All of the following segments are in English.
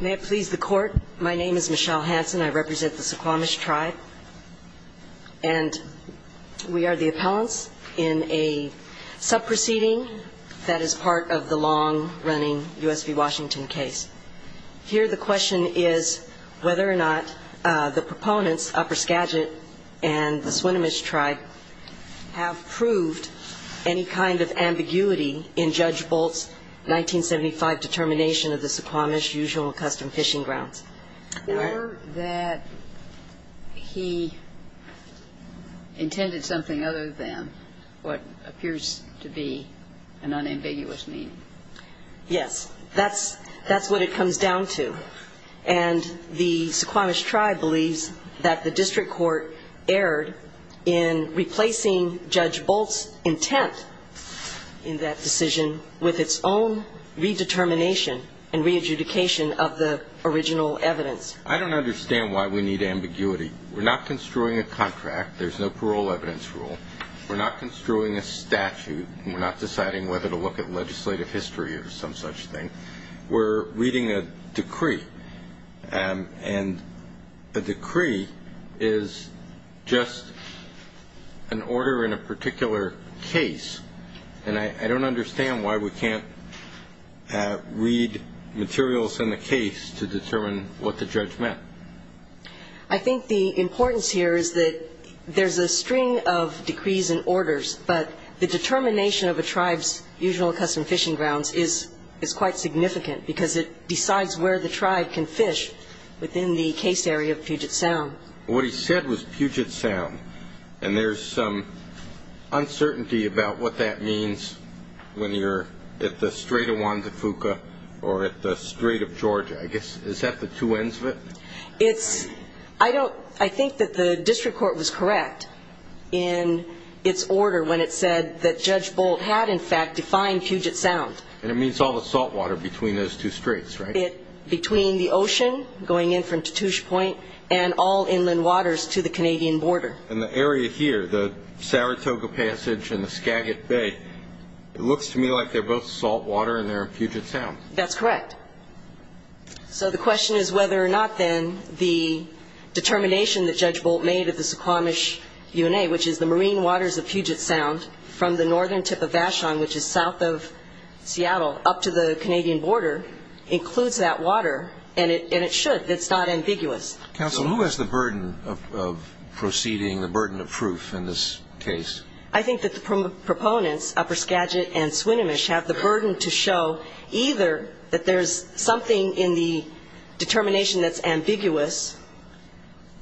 May it please the Court, my name is Michelle Hansen, I represent the Suquamish Tribe, and we are the appellants in a sub-proceeding that is part of the long-running U.S. v. Washington case. Here the question is whether or not the proponents, Upper Skagit and the Swinomish Tribe, have proved any kind of ambiguity in Judge Bolt's 1975 determination of the Suquamish Usual and Custom Fishing Grounds. Were that he intended something other than what appears to be an unambiguous mean? Yes, that's what it comes down to. And the Suquamish Tribe believes that the district court erred in replacing Judge Bolt's intent in that decision with its own redetermination and re-adjudication of the original evidence. I don't understand why we need ambiguity. We're not construing a contract, there's no parole evidence rule, we're not construing a statute, we're not deciding whether to look at legislative history or some such thing. We're reading a decree, and a decree is just an order in a particular case, and I don't understand why we can't read materials in the case to determine what the judge meant. I think the importance here is that there's a string of decrees and orders, but the determination of a tribe's Usual and Custom Fishing Grounds is quite significant because it decides where the tribe can fish within the case area of Puget Sound. What he said was Puget Sound, and there's some uncertainty about what that means when you're at the Strait of Juan de Fuca or at the Strait of Georgia, I guess. Is that the two ends of it? I think that the district court was correct in its order when it said that Judge Bolt had, in fact, defined Puget Sound. And it means all the salt water between those two straits, right? Between the ocean, going in from Tatoosh Point, and all inland waters to the Canadian border. And the area here, the Saratoga Passage and the Skagit Bay, it looks to me like they're both salt water and they're in Puget Sound. That's correct. So the question is whether or not then the determination that Judge Bolt made at the Suquamish UNA, which is the marine waters of Puget Sound from the northern tip of Vashon, which is south of Seattle, up to the Canadian border, includes that water. And it should. It's not ambiguous. Counsel, who has the burden of proceeding, the burden of proof in this case? I think that the proponents, Upper Skagit and Swinomish, have the burden to show either that there's something in the determination that's ambiguous,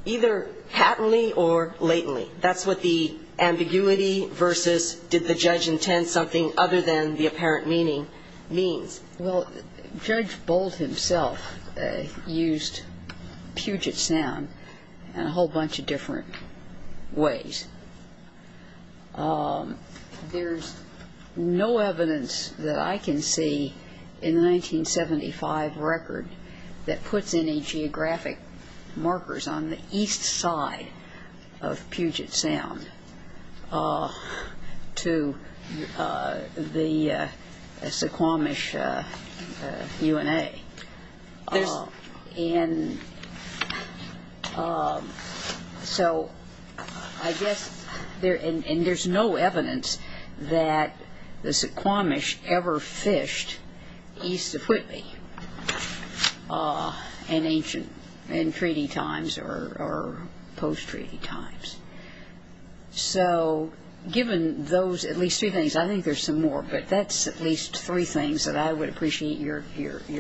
either patently or latently. That's what the ambiguity versus did the judge intend something other than the apparent meaning means. Well, Judge Bolt himself used Puget Sound in a whole bunch of different ways. There's no evidence that I can see in the 1975 record that puts any geographic markers on the east side of Puget Sound to the Suquamish UNA. And so I guess there's no evidence that the Suquamish ever fished east of Whitby in ancient, in treaty times or post-treaty times. So given those at least three things, I think there's some more, but that's at least three things that I would appreciate your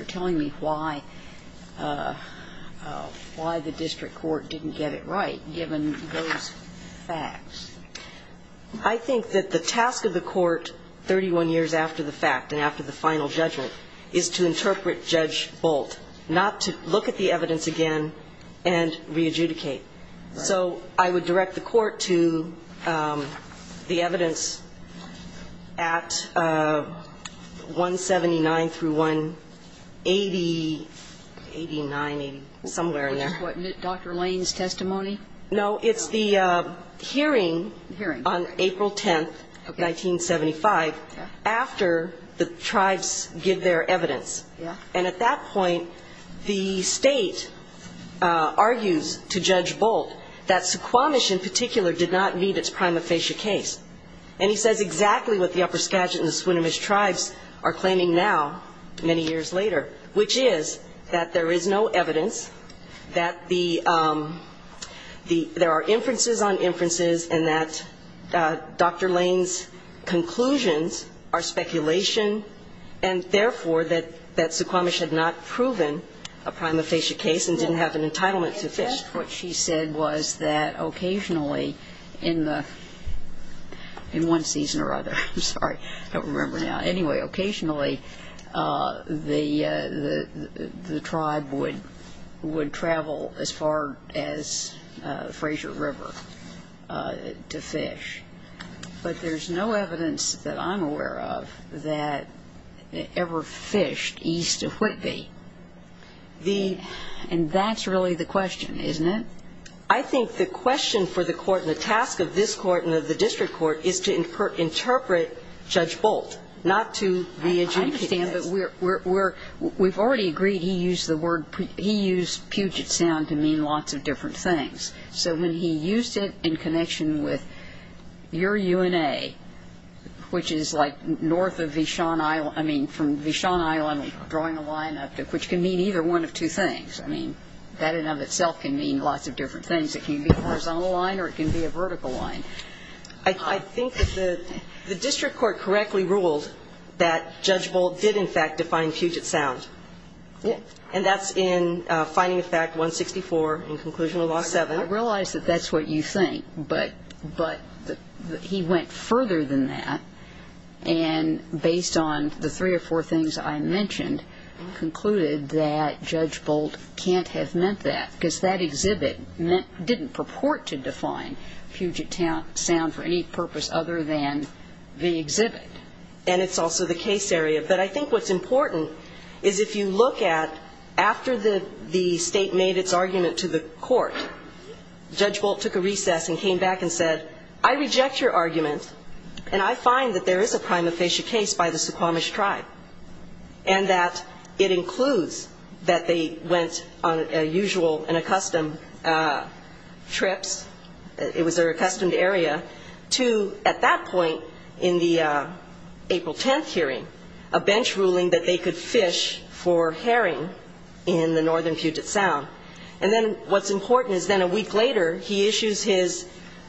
telling me why the district court didn't get it right given those facts. I think that the task of the court 31 years after the fact and after the final judgment is to interpret Judge Bolt, not to look at the evidence again and re-adjudicate. So I would direct the court to the evidence at 179 through 180, 89, 80, somewhere in there. Which is what, Dr. Lane's testimony? No, it's the hearing on April 10th, 1975, after the tribes give their evidence. And at that point, the state argues to Judge Bolt that Suquamish in particular did not meet its prima facie case. And he says exactly what the upper Saskatchewan and Swinomish tribes are claiming now, many years later, which is that there is no evidence that the there are inferences on inferences and that Dr. Lane's conclusions are speculation. And therefore, that Suquamish had not proven a prima facie case and didn't have an entitlement to fish. What she said was that occasionally in the, in one season or other, I'm sorry, I don't remember now. Anyway, occasionally the tribe would travel as far as, as far as, as far as the Fraser River to fish. But there's no evidence that I'm aware of that ever fished east of Whitby. And that's really the question, isn't it? I think the question for the Court and the task of this Court and of the district court is to interpret Judge Bolt, not to the agency that has to interpret him. I understand, but we're, we're, we've already agreed he used the word, he used Puget Sound to mean lots of different things. So when he used it in connection with your UNA, which is like north of Vishon Island, I mean, from Vishon Island, drawing a line up to, which can mean either one of two things. I mean, that in and of itself can mean lots of different things. It can be a horizontal line or it can be a vertical line. I think that the, the district court correctly ruled that Judge Bolt did in fact define Puget Sound. And that's in Finding of Fact 164 in Conclusion of Law 7. I realize that that's what you think, but, but he went further than that and based on the three or four things I mentioned, concluded that Judge Bolt can't have meant that, because that exhibit meant, didn't purport to define Puget Sound for any purpose other than the exhibit. And it's also the case area. But I think what's important is if you look at after the, the state made its argument to the court, Judge Bolt took a recess and came back and said, I reject your argument and I find that there is a prima facie case by the Suquamish tribe. And that it includes that they went on a usual and a custom trips, it was their accustomed area, to at that point in the April 10th hearing, a bench ruling that they could fish for herring in the northern Puget Sound. And then what's important is then a week later, he issues his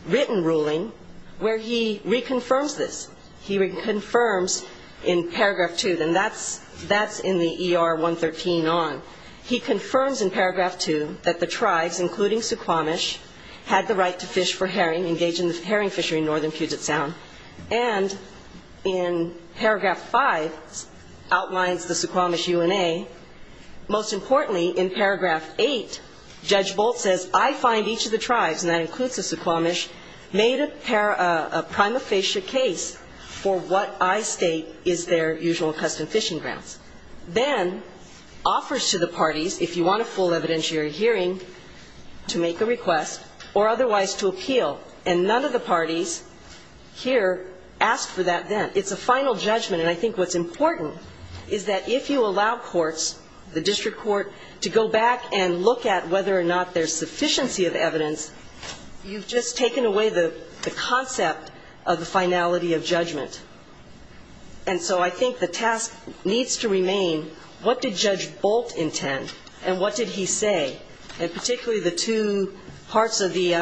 written ruling where he reconfirms this. He confirms in Paragraph 2, and that's, that's in the ER 113 on. He confirms in Paragraph 2 that the tribes, including Suquamish, had the right to fish for herring, engage in the herring fishery in northern Puget Sound. And in Paragraph 5, outlines the Suquamish UNA. Most importantly, in Paragraph 8, Judge Bolt says, I find each of the tribes, and that includes the Suquamish, made a prima facie case for what I state is their usual and custom fishing grounds. Then offers to the parties, if you want a full evidentiary hearing, to make a request, or otherwise to appeal. And none of the parties here asked for that then. It's a final judgment. And I think what's important is that if you allow courts, the district court, to go back and look at whether or not there's sufficiency of evidence, you've just taken away the concept of the finality of judgment. And so I think the task needs to remain, what did Judge Bolt intend? And what did he say? And particularly the two parts of the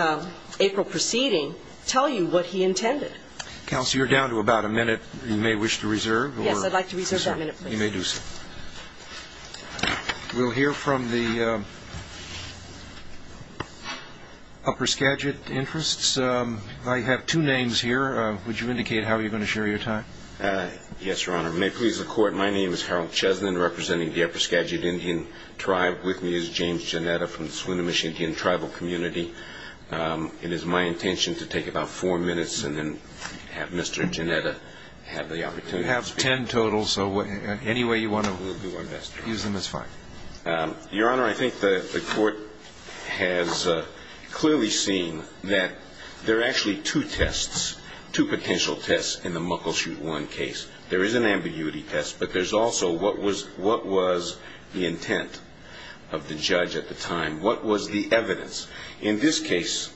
April proceeding tell you what he intended. Counsel, you're down to about a minute. You may wish to reserve. Yes, I'd like to reserve that minute, please. You may do so. We'll hear from the upper Skagit interests. I have two names here. Would you indicate how you're going to share your time? Yes, Your Honor. May it please the Court, my name is Harold Chesnin, representing the tribe. With me is James Janetta from the Swinomish Indian Tribal Community. It is my intention to take about four minutes and then have Mr. Janetta have the opportunity to speak. You have ten total, so any way you want to use them is fine. Your Honor, I think the Court has clearly seen that there are actually two tests, two potential tests in the Muckleshoot 1 case. There is an ambiguity test, but there's also what was the intent of the judge at the time. What was the evidence? In this case,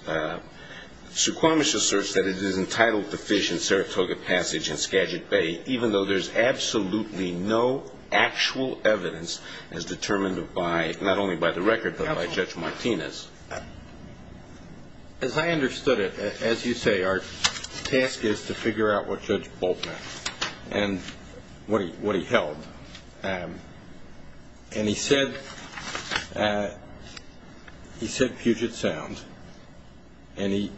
Suquamish asserts that it is entitled to fish in Saratoga Passage and Skagit Bay, even though there's absolutely no actual evidence as determined by, not only by the record, but by Judge Martinez. As I understood it, as you say, our task is to figure out what Judge Bolt meant and what he held. And he said, he said Puget Sound, and he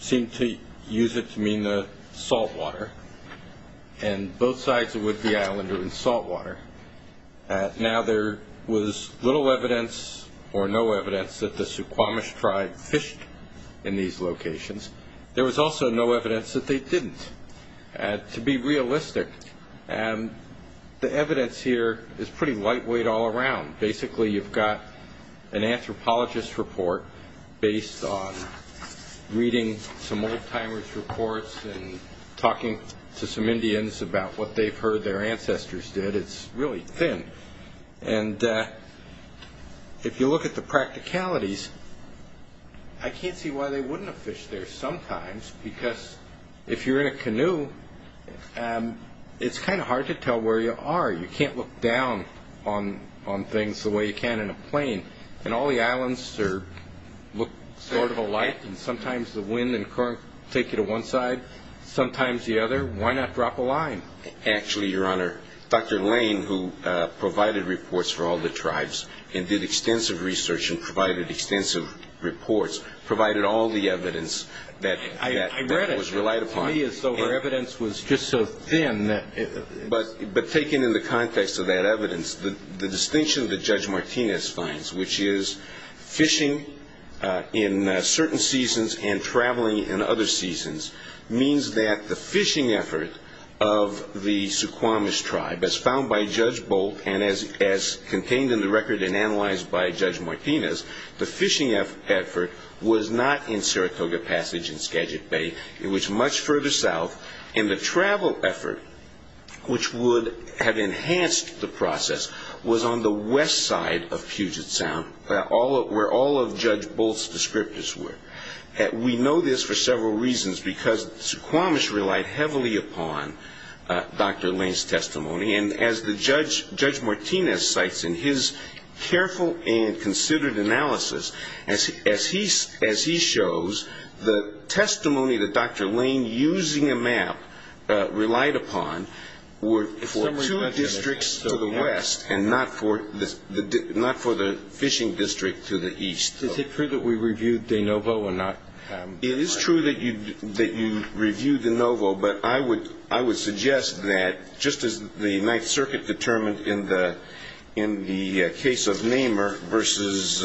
seemed to use it to mean the salt water, and both sides of Whidbey Island are in salt water. Now there was little evidence or no evidence that the Suquamish tribe fished in these locations. There was also no evidence that they didn't, to be realistic. The evidence here is pretty lightweight all around. Basically you've got an anthropologist's report based on reading some old-timers' reports and talking to some Indians about what they've heard their ancestors did. It's really thin. If you look at the practicalities, I can't see why they wouldn't have fished there sometimes, because if you're in a canoe, it's kind of hard to tell where you are. You can't look down on things the way you can in a plane. And all the islands look sort of alike, and sometimes the wind and current take you to one side, sometimes the other. Why not drop a line? Actually, Your Honor, Dr. Lane, who provided reports for all the tribes and did extensive research and provided extensive reports, provided all the evidence that was relied upon. But taken in the context of that evidence, the distinction that Judge Martinez finds, which is fishing in certain seasons and traveling in other seasons, means that the fishing effort of the Suquamish tribe, as found by Judge Bolt and as contained in the record and analyzed by Judge Martinez, the fishing effort was not in Saratoga Passage in Skagit Bay. It was much further south, and the travel effort, which would have enhanced the process, was on the west side of Puget Sound, where all of Judge Bolt's descriptors were. We know this for several reasons, because Suquamish relied heavily upon Dr. Lane's testimony. And as Judge Martinez cites in his careful and considered analysis, as he shows, the testimony that Dr. Lane, using a map, relied upon, were for two districts to the west and not for the fishing district to the east. Is it true that we reviewed De Novo and not It is true that you reviewed De Novo, but I would suggest that, just as the Ninth Circuit determined in the case of Nehmer versus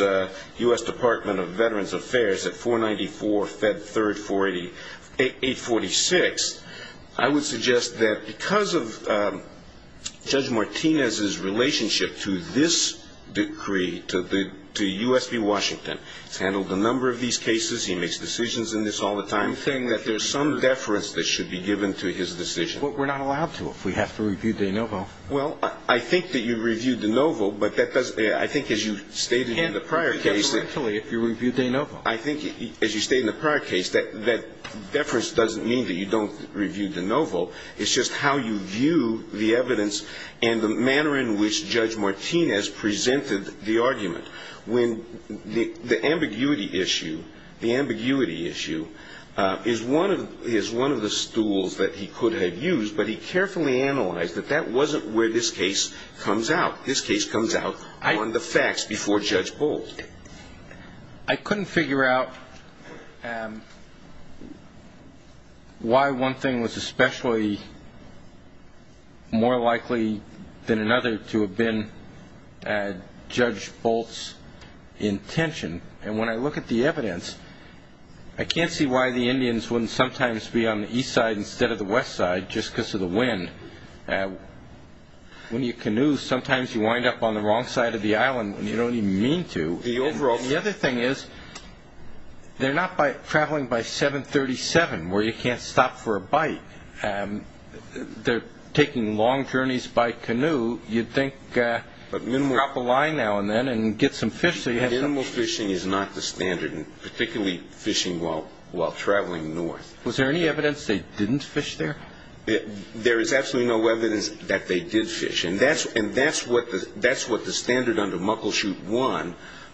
U.S. Department of Veterans Affairs at 494-Fed3-846, I would suggest that because of Judge Martinez's relationship to this decree, to U.S. v. Washington. It's handled a number of these cases. He makes decisions in this all the time. I'm saying that there's some deference that should be given to his decision. Well, we're not allowed to if we have to review De Novo. Well, I think that you reviewed De Novo, but that doesn't – I think as you stated in the prior case that Absolutely, if you reviewed De Novo. I think, as you stated in the prior case, that deference doesn't mean that you don't review De Novo. It's just how you view the evidence and the manner in which Judge Martinez presented the argument when the ambiguity issue, the ambiguity issue, is one of the stools that he could have used, but he carefully analyzed that that wasn't where this case comes out. This case comes out on the facts before Judge Boldt. I couldn't figure out why one thing was especially more likely than another to have been Judge Boldt's intention. And when I look at the evidence, I can't see why the Indians wouldn't sometimes be on the east side instead of the west side just because of the wind. When you canoe, sometimes you wind up on the wrong side of the island when you don't even mean to. The other thing is they're not traveling by 737 where you can't stop for a bike. They're taking long journeys by canoe. You'd think drop a line now and then and get some fish. Minimal fishing is not the standard, particularly fishing while traveling north. Was there any evidence they didn't fish there? There is absolutely no evidence that they did fish. And that's what the standard under Muckleshoot I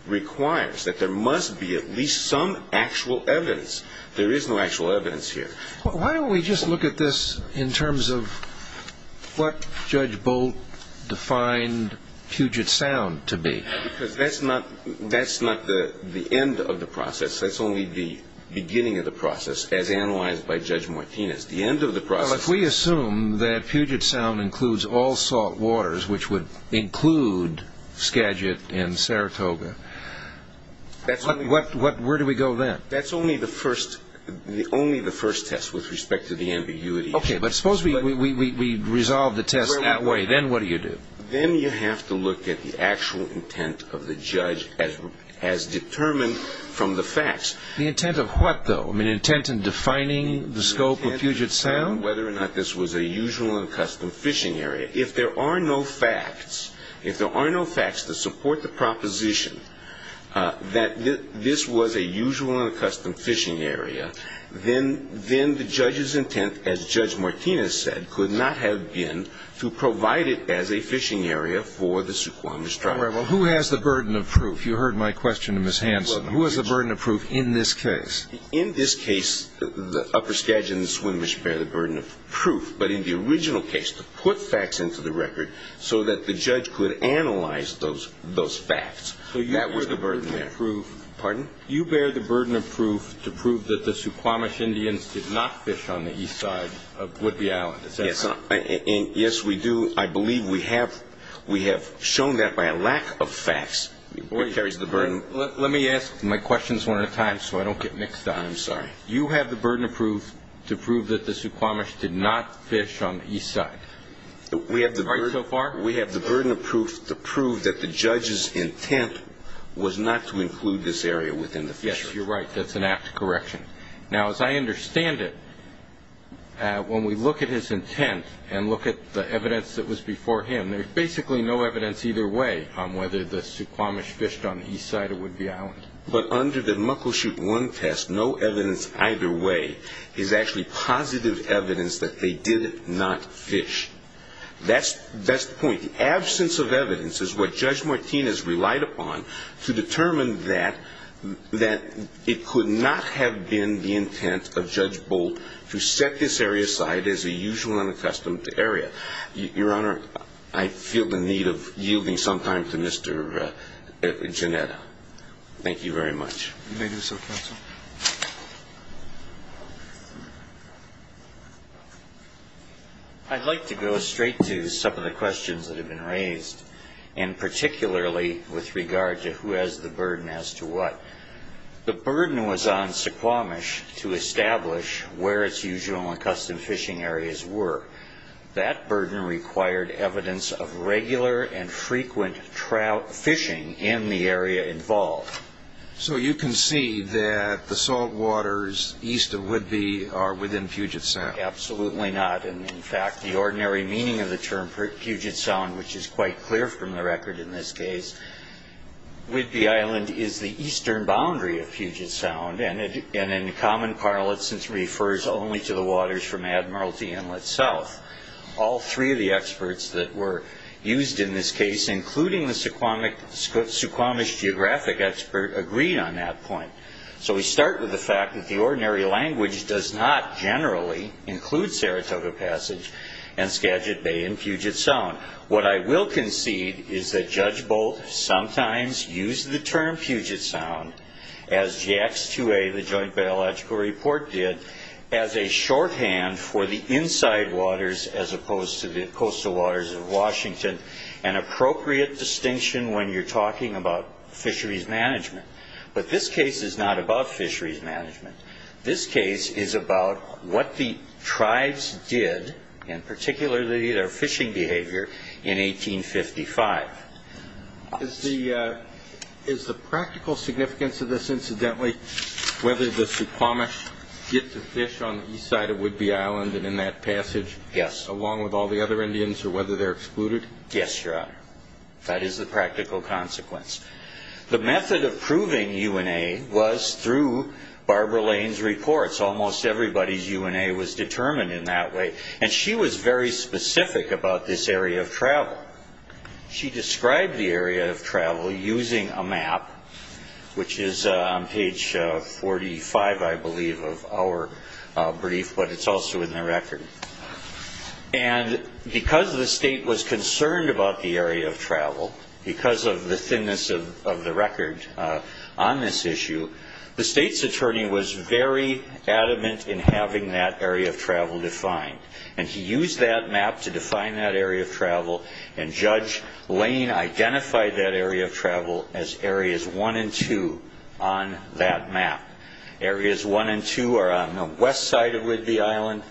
requires, that there must be at least some actual evidence. There is no actual evidence here. Why don't we just look at this in terms of what Judge Boldt defined Puget Sound to be? Because that's not the end of the process. That's only the beginning of the process as analyzed by Judge Martinez. The end of the process is Puget Sound includes all salt waters, which would include Skagit and Saratoga. Where do we go then? That's only the first test with respect to the ambiguity. Okay, but suppose we resolve the test that way. Then what do you do? Then you have to look at the actual intent of the judge as determined from the facts. The intent of what, though? The intent in defining the scope of Puget Sound? Whether or not this was a usual and custom fishing area. If there are no facts, if there are no facts to support the proposition that this was a usual and custom fishing area, then the judge's intent, as Judge Martinez said, could not have been to provide it as a fishing area for the Suquamish tribe. Well, who has the burden of proof? You heard my question to Ms. Hanson. Who has the burden of proof in this case? In this case, the upper Skagit and Swinomish bear the burden of proof. But in the original case, to put facts into the record so that the judge could analyze those facts, that was the burden there. Pardon? You bear the burden of proof to prove that the Suquamish Indians did not fish on the east side of Woodby Island. Is that correct? Yes, we do. I believe we have shown that by a lack of facts. It carries the burden. Let me ask my questions one at a time so I don't get mixed up. I'm sorry. You have the burden of proof to prove that the Suquamish did not fish on the east side. Is that right so far? We have the burden of proof to prove that the judge's intent was not to include this area within the fishery. Yes, you're right. That's an apt correction. Now, as I understand it, when we look at his intent and look at the evidence that was before him, there's basically no evidence either way on whether the Suquamish fished on the east side of Woodby Island. But under the Muckleshoot 1 test, no evidence either way is actually positive evidence that they did not fish. That's the point. The absence of evidence is what Judge Martinez relied upon to determine that it could not have been the intent of Judge Bolt to set this area aside as a usual and accustomed area. Your Honor, I feel the need of yielding some time to Mr. Giannetta. Thank you very much. You may do so, counsel. I'd like to go straight to some of the questions that have been raised, and particularly with regard to who has the burden as to what. The burden was on Suquamish to establish where its usual and accustomed fishing areas were. That burden required evidence of regular and frequent trout fishing in the area involved. So you can see that the salt waters east of Woodby are within Puget Sound. Absolutely not. And in fact, the ordinary meaning of the term Puget Sound, which is quite clear from the record in this case, Woodby Island is the eastern boundary of Puget Sound, and in common parlance, it refers only to the waters from Admiralty Inlet South. All three of the experts that were used in this case, including the Suquamish geographic expert, agreed on that point. So we start with the fact that the ordinary language does not generally include Saratoga Passage and Skagit Bay and Puget Sound. What I will concede is that Judge Bolt sometimes used the term Puget Sound, as JX2A, the Joint Biological Report, did, as a shorthand for the inside waters as opposed to the coastal waters of Washington, an appropriate distinction when you're talking about fisheries management. But this case is not about fisheries management. This case is about what the tribes did, and what they did in 1855. Is the practical significance of this, incidentally, whether the Suquamish get to fish on the east side of Woodby Island and in that passage, along with all the other Indians, or whether they're excluded? Yes, Your Honor. That is the practical consequence. The method of proving UNA was through Barbara Lane's reports. Almost everybody's UNA was the area of travel. She described the area of travel using a map, which is on page 45, I believe, of our brief, but it's also in the record. And because the state was concerned about the area of travel, because of the thinness of the record on this issue, the state's attorney was very adamant in having that area of travel defined. And he used that map to define that area of travel, and Judge Lane identified that area of travel as areas one and two on that map. Areas one and two are on the west side of Woodby Island,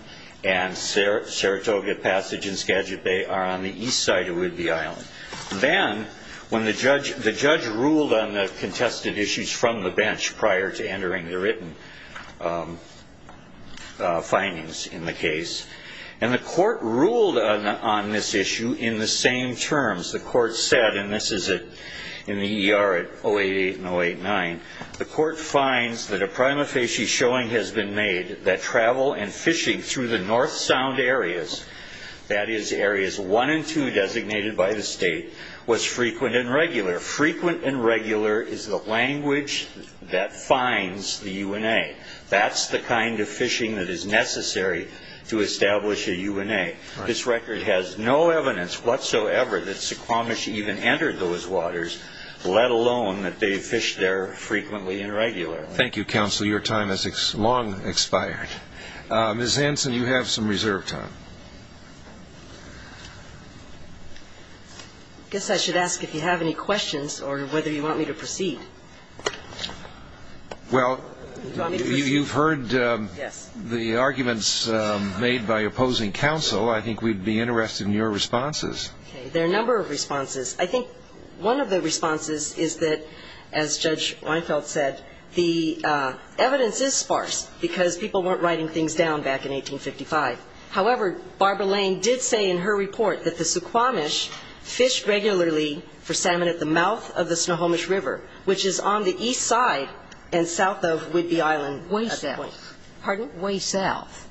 and Saratoga Passage and Skagit Bay are on the east side of Woodby Island. Then, when the judge ruled on the contested issues from the bench, prior to entering the written findings in the case, and the court ruled on this issue in the same terms, the court said, and this is in the ER at 088 and 089, the court finds that a prima facie showing has been made that travel and fishing through the north sound areas, that is, areas one and two designated by the state, was frequent and regular. Frequent and regular is the language that finds the UNA. This record has no evidence whatsoever that Suquamish even entered those waters, let alone that they fished there frequently and regularly. Thank you, counsel. Your time has long expired. Ms. Hanson, you have some reserve time. I guess I should ask if you have any questions, or whether you want me to proceed. Well, you've heard the arguments made by opposing counsel. I think we'd be interested in your responses. There are a number of responses. I think one of the responses is that, as Judge Reinfeldt said, the evidence is sparse, because people weren't writing things down back in 1855. However, Barbara Lane did say in her report that the Suquamish fished regularly for salmon at the mouth of the Snohomish River, which is on the east side and south of Whidbey Island. Way south. Pardon? Way south.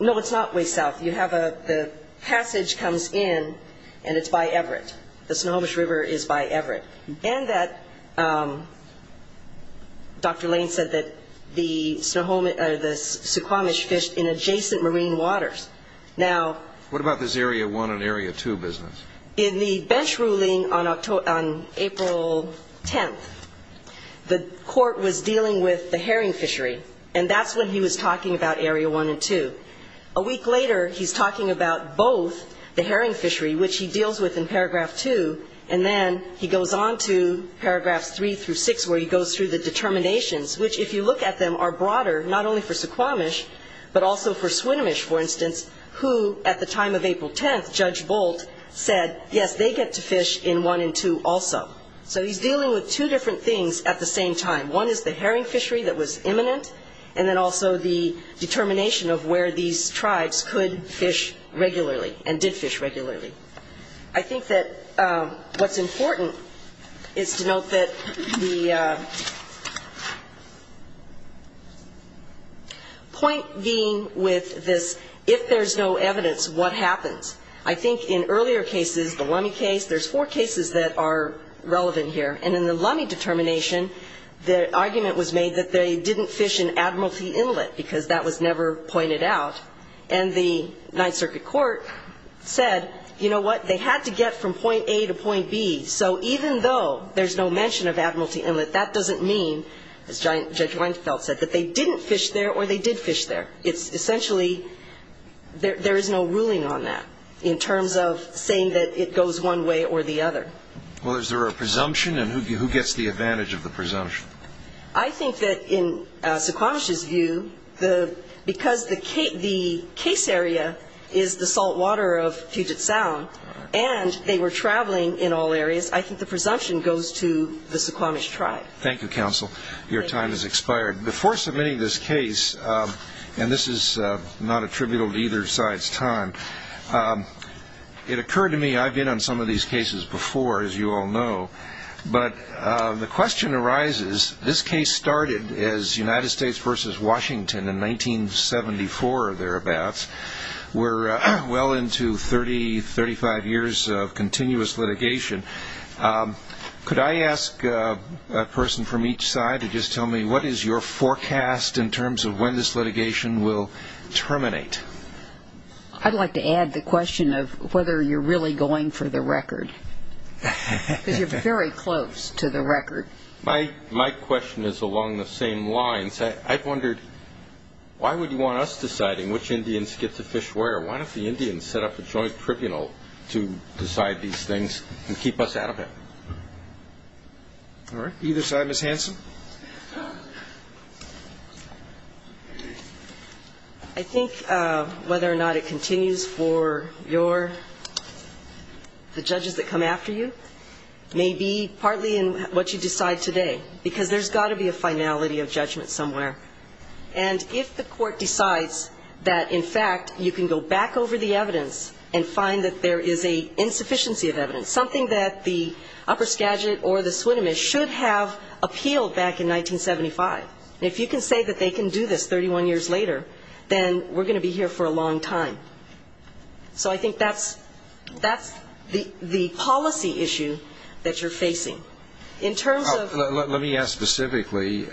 No, it's not way south. You have a passage comes in, and it's by Everett. The Snohomish River is by Everett. And that Dr. Lane said that the Suquamish fished in adjacent marine waters. What about this area one and area two business? In the bench ruling on April 10th, the court was dealing with the herring fishery, and that's when he was talking about area one and two. A week later, he's talking about both the herring fishery, which he deals with in paragraph two, and then he goes on to paragraphs three through six, where he goes through the determinations, which, if you look at them, are broader, not only for Suquamish, but also for Swinomish, for instance, who, at the time of April 10th, Judge Bolt said, yes, they get to fish in one and two also. So he's dealing with two different things at the same time. One is the herring fishery that was imminent, and then also the determination of where these tribes could fish regularly and did fish regularly. I think that what's important is to note that the point being with this, if there's no evidence, what happens? I think in earlier cases, the Lummi case, there's four cases that are relevant here, and in the Lummi determination, the argument was made that they didn't fish in Admiralty Inlet, because that was never pointed out, and the Ninth Circuit Court said, you know what, they had to get from point A to point B. So even though there's no mention of Admiralty Inlet, that doesn't mean, as Judge Reinfeldt said, that they didn't fish there or they did fish there. It's essentially, there is no ruling on that in terms of saying that it goes one way or the other. Well, is there a presumption, and who gets the advantage of the presumption? I think that in Suquamish's view, because the case area is the salt water of Puget Sound, and they were traveling in all areas, I think the presumption goes to the Suquamish tribe. Thank you, Counsel. Your time has expired. Before submitting this case, and this is not attributable to either side's time, it occurred to me, I've been on some of these cases before, as you all know, but the question arises, this case started as United States versus Washington in 1974 or thereabouts. We're well into 30, 35 years of continuous litigation. Could I ask a person from each side to just tell me, what is your forecast in terms of when this litigation will terminate? I'd like to add the question of whether you're really going for the record, because you're very close to the record. My question is along the same lines. I've wondered, why would you want us deciding which Indians get to fish where? Why don't the Indians set up a joint tribunal to decide these things and keep us out of it? All right. Either side. Ms. Hanson? I think whether or not it continues for your, the judges that come after you, may be partly in what you decide today, because there's got to be a finality of judgment somewhere. And if the court decides that, in fact, you can go back over the evidence and find that there is a insufficiency of evidence, something that the upper Skagit or the Swinomish should have appealed back in 1975. And if you can say that they can do this 31 years later, then we're going to be here for a long time. So I think that's the policy issue that you're facing. Let me ask specifically,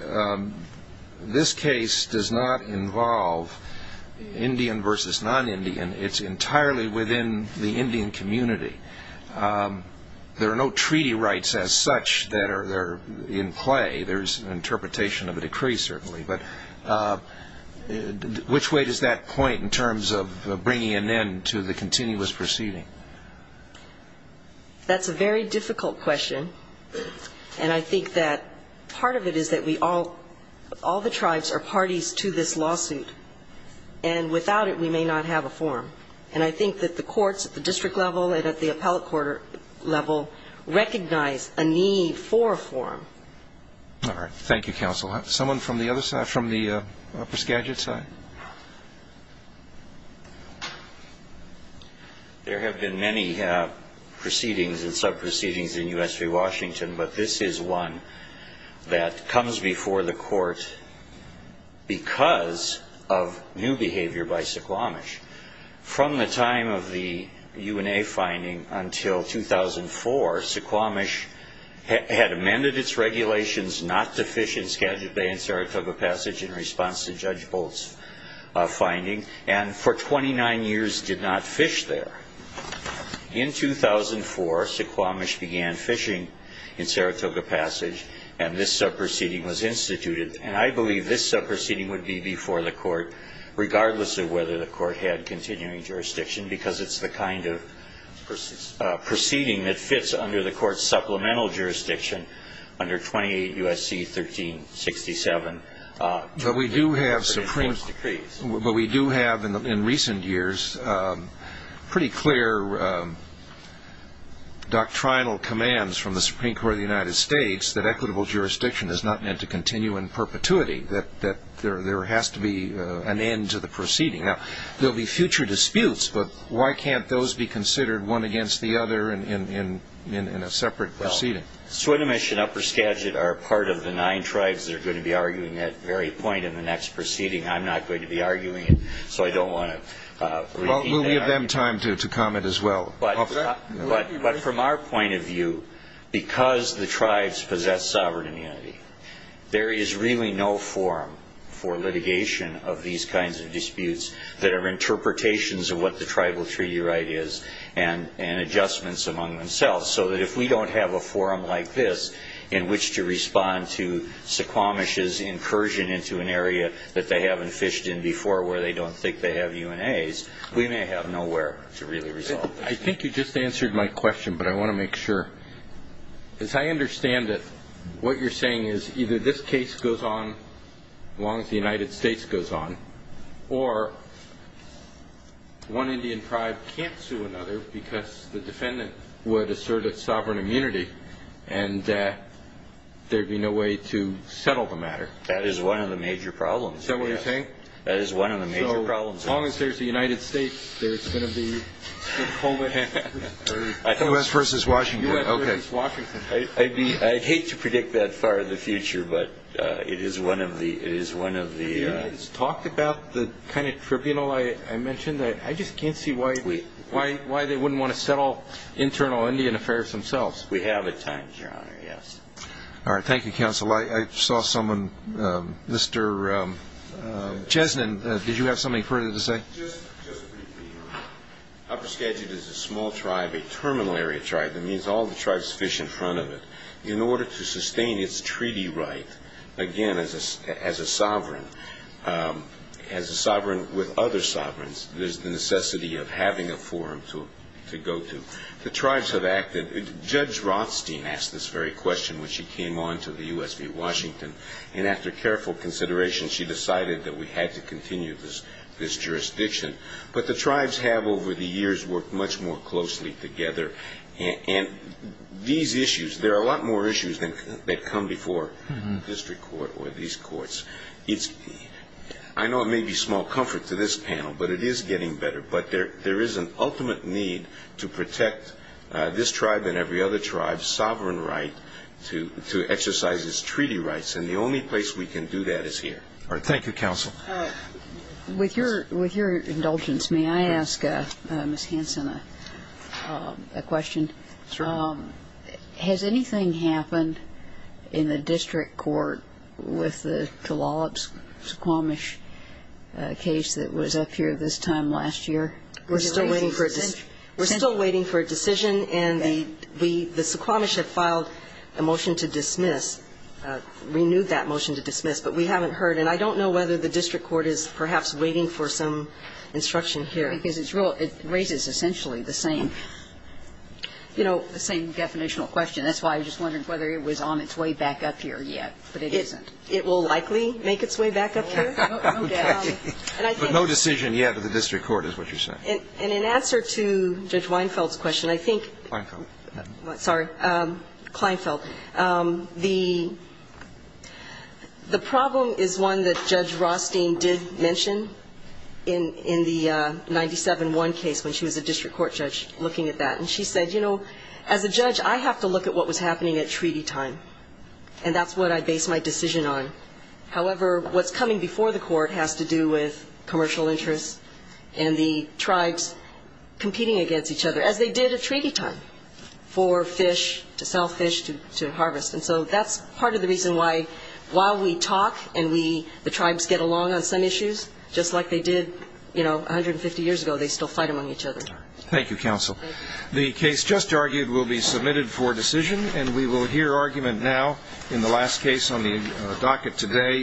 this case does not involve Indian versus non-Indian. It's such that they're in play. There's an interpretation of a decree, certainly. But which way does that point in terms of bringing an end to the continuous proceeding? That's a very difficult question. And I think that part of it is that we all, all the tribes are parties to this lawsuit. And without it, we may not have a forum. And I think that the Supreme Court has said that we need four forums. All right. Thank you, counsel. Someone from the other side, from the upper Skagit side? There have been many proceedings and sub-proceedings in U.S. v. Washington, but this is one that comes before the court because of new behavior by Suquamish. From the time of the U.N.A. finding until 2004, Suquamish had amended its regulations not to fish in Skagit Bay in Saratoga Passage in response to Judge Bolt's finding, and for 29 years did not fish there. In 2004, Suquamish began fishing in Saratoga Passage, and this sub-proceeding was instituted. And I believe this sub-proceeding would be before the court, regardless of whether the court had a proceeding that fits under the court's supplemental jurisdiction under 28 U.S.C. 1367. But we do have, in recent years, pretty clear doctrinal commands from the Supreme Court of the United States that equitable jurisdiction is not meant to continue in perpetuity, that there has to be an end to the proceeding. Now, there will be future disputes, but why can't those be considered one against the other in a separate proceeding? Well, Suquamish and Upper Skagit are part of the nine tribes that are going to be arguing that very point in the next proceeding. I'm not going to be arguing it, so I don't want to repeat that argument. Well, we'll give them time to comment as well. But from our point of view, because the tribes possess sovereign immunity, there is really no forum for litigation of these kinds of disputes that are interpretations of what the tribal treaty right is and adjustments among themselves. So that if we don't have a forum like this in which to respond to Suquamish's incursion into an area that they haven't fished in before where they don't think they have UNAs, we may have nowhere to really resolve this. I think you just answered my question, but I want to make sure. As I understand it, what you're saying is either this case goes on as long as the United States goes on, or one Indian tribe can't sue another because the defendant would assert its sovereign immunity and there'd be no way to settle the matter. That is one of the major problems. Is that what you're saying? That is one of the major problems. So as long as there's a United States, there's going to be... West versus Washington. I'd hate to predict that far in the future, but it is one of the... You talked about the kind of tribunal I mentioned. I just can't see why they wouldn't want to settle internal Indian affairs themselves. We have at times, Your Honor, yes. All right, thank you, Counsel. I saw someone, Mr. Chesnin, did you have something further to say? Just briefly, Your Honor, Upper Skagit is a small tribe, a terminal area tribe. That means all the tribes fish in front of it. In order to sustain its treaty right, again, as a sovereign, as a sovereign with other sovereigns, there's the necessity of having a forum to go to. The tribes have acted. Judge Rothstein asked this very question when she came on to the U.S. v. Washington, and after careful consideration, she decided that we had to continue this jurisdiction. But the tribes have over the years worked much more closely together. And these issues, there are a lot more issues that come before the district court or these courts. I know it may be small comfort to this panel, but it is getting better. But there is an ultimate need to protect this tribe and every other tribe's sovereign right to exercise its treaty rights. And the only place we can do that is here. All right. Thank you, counsel. With your indulgence, may I ask Ms. Hanson a question? Sure. Has anything happened in the district court with the Tulalip-Suquamish case that was up here this time last year? We're still waiting for a decision. And the Suquamish have filed a motion to dismiss, renewed that motion to dismiss. But we haven't heard. And I don't know whether the district court is perhaps waiting for some instruction here. Because it raises essentially the same, you know, the same definitional question. That's why I was just wondering whether it was on its way back up here yet. But it isn't. It will likely make its way back up here, no doubt. But no decision yet at the district court is what you're saying. And in answer to Judge Weinfeld's question, I think the problem is one that Judge Rothstein did mention in the 97-1 case when she was a district court judge looking at that. And she said, you know, as a judge, I have to look at what was happening at treaty time. And that's what I base my decision on. However, what's coming before the court has to do with commercial interests and the tribes competing against each other, as they did at treaty time for fish, to sell fish to harvest. And so that's part of the reason why while we talk and the tribes get along on some issues, just like they did, you know, 150 years ago, they still fight among each other. Thank you, counsel. The case just argued will be submitted for decision. And we will hear argument now in the last case on the docket today.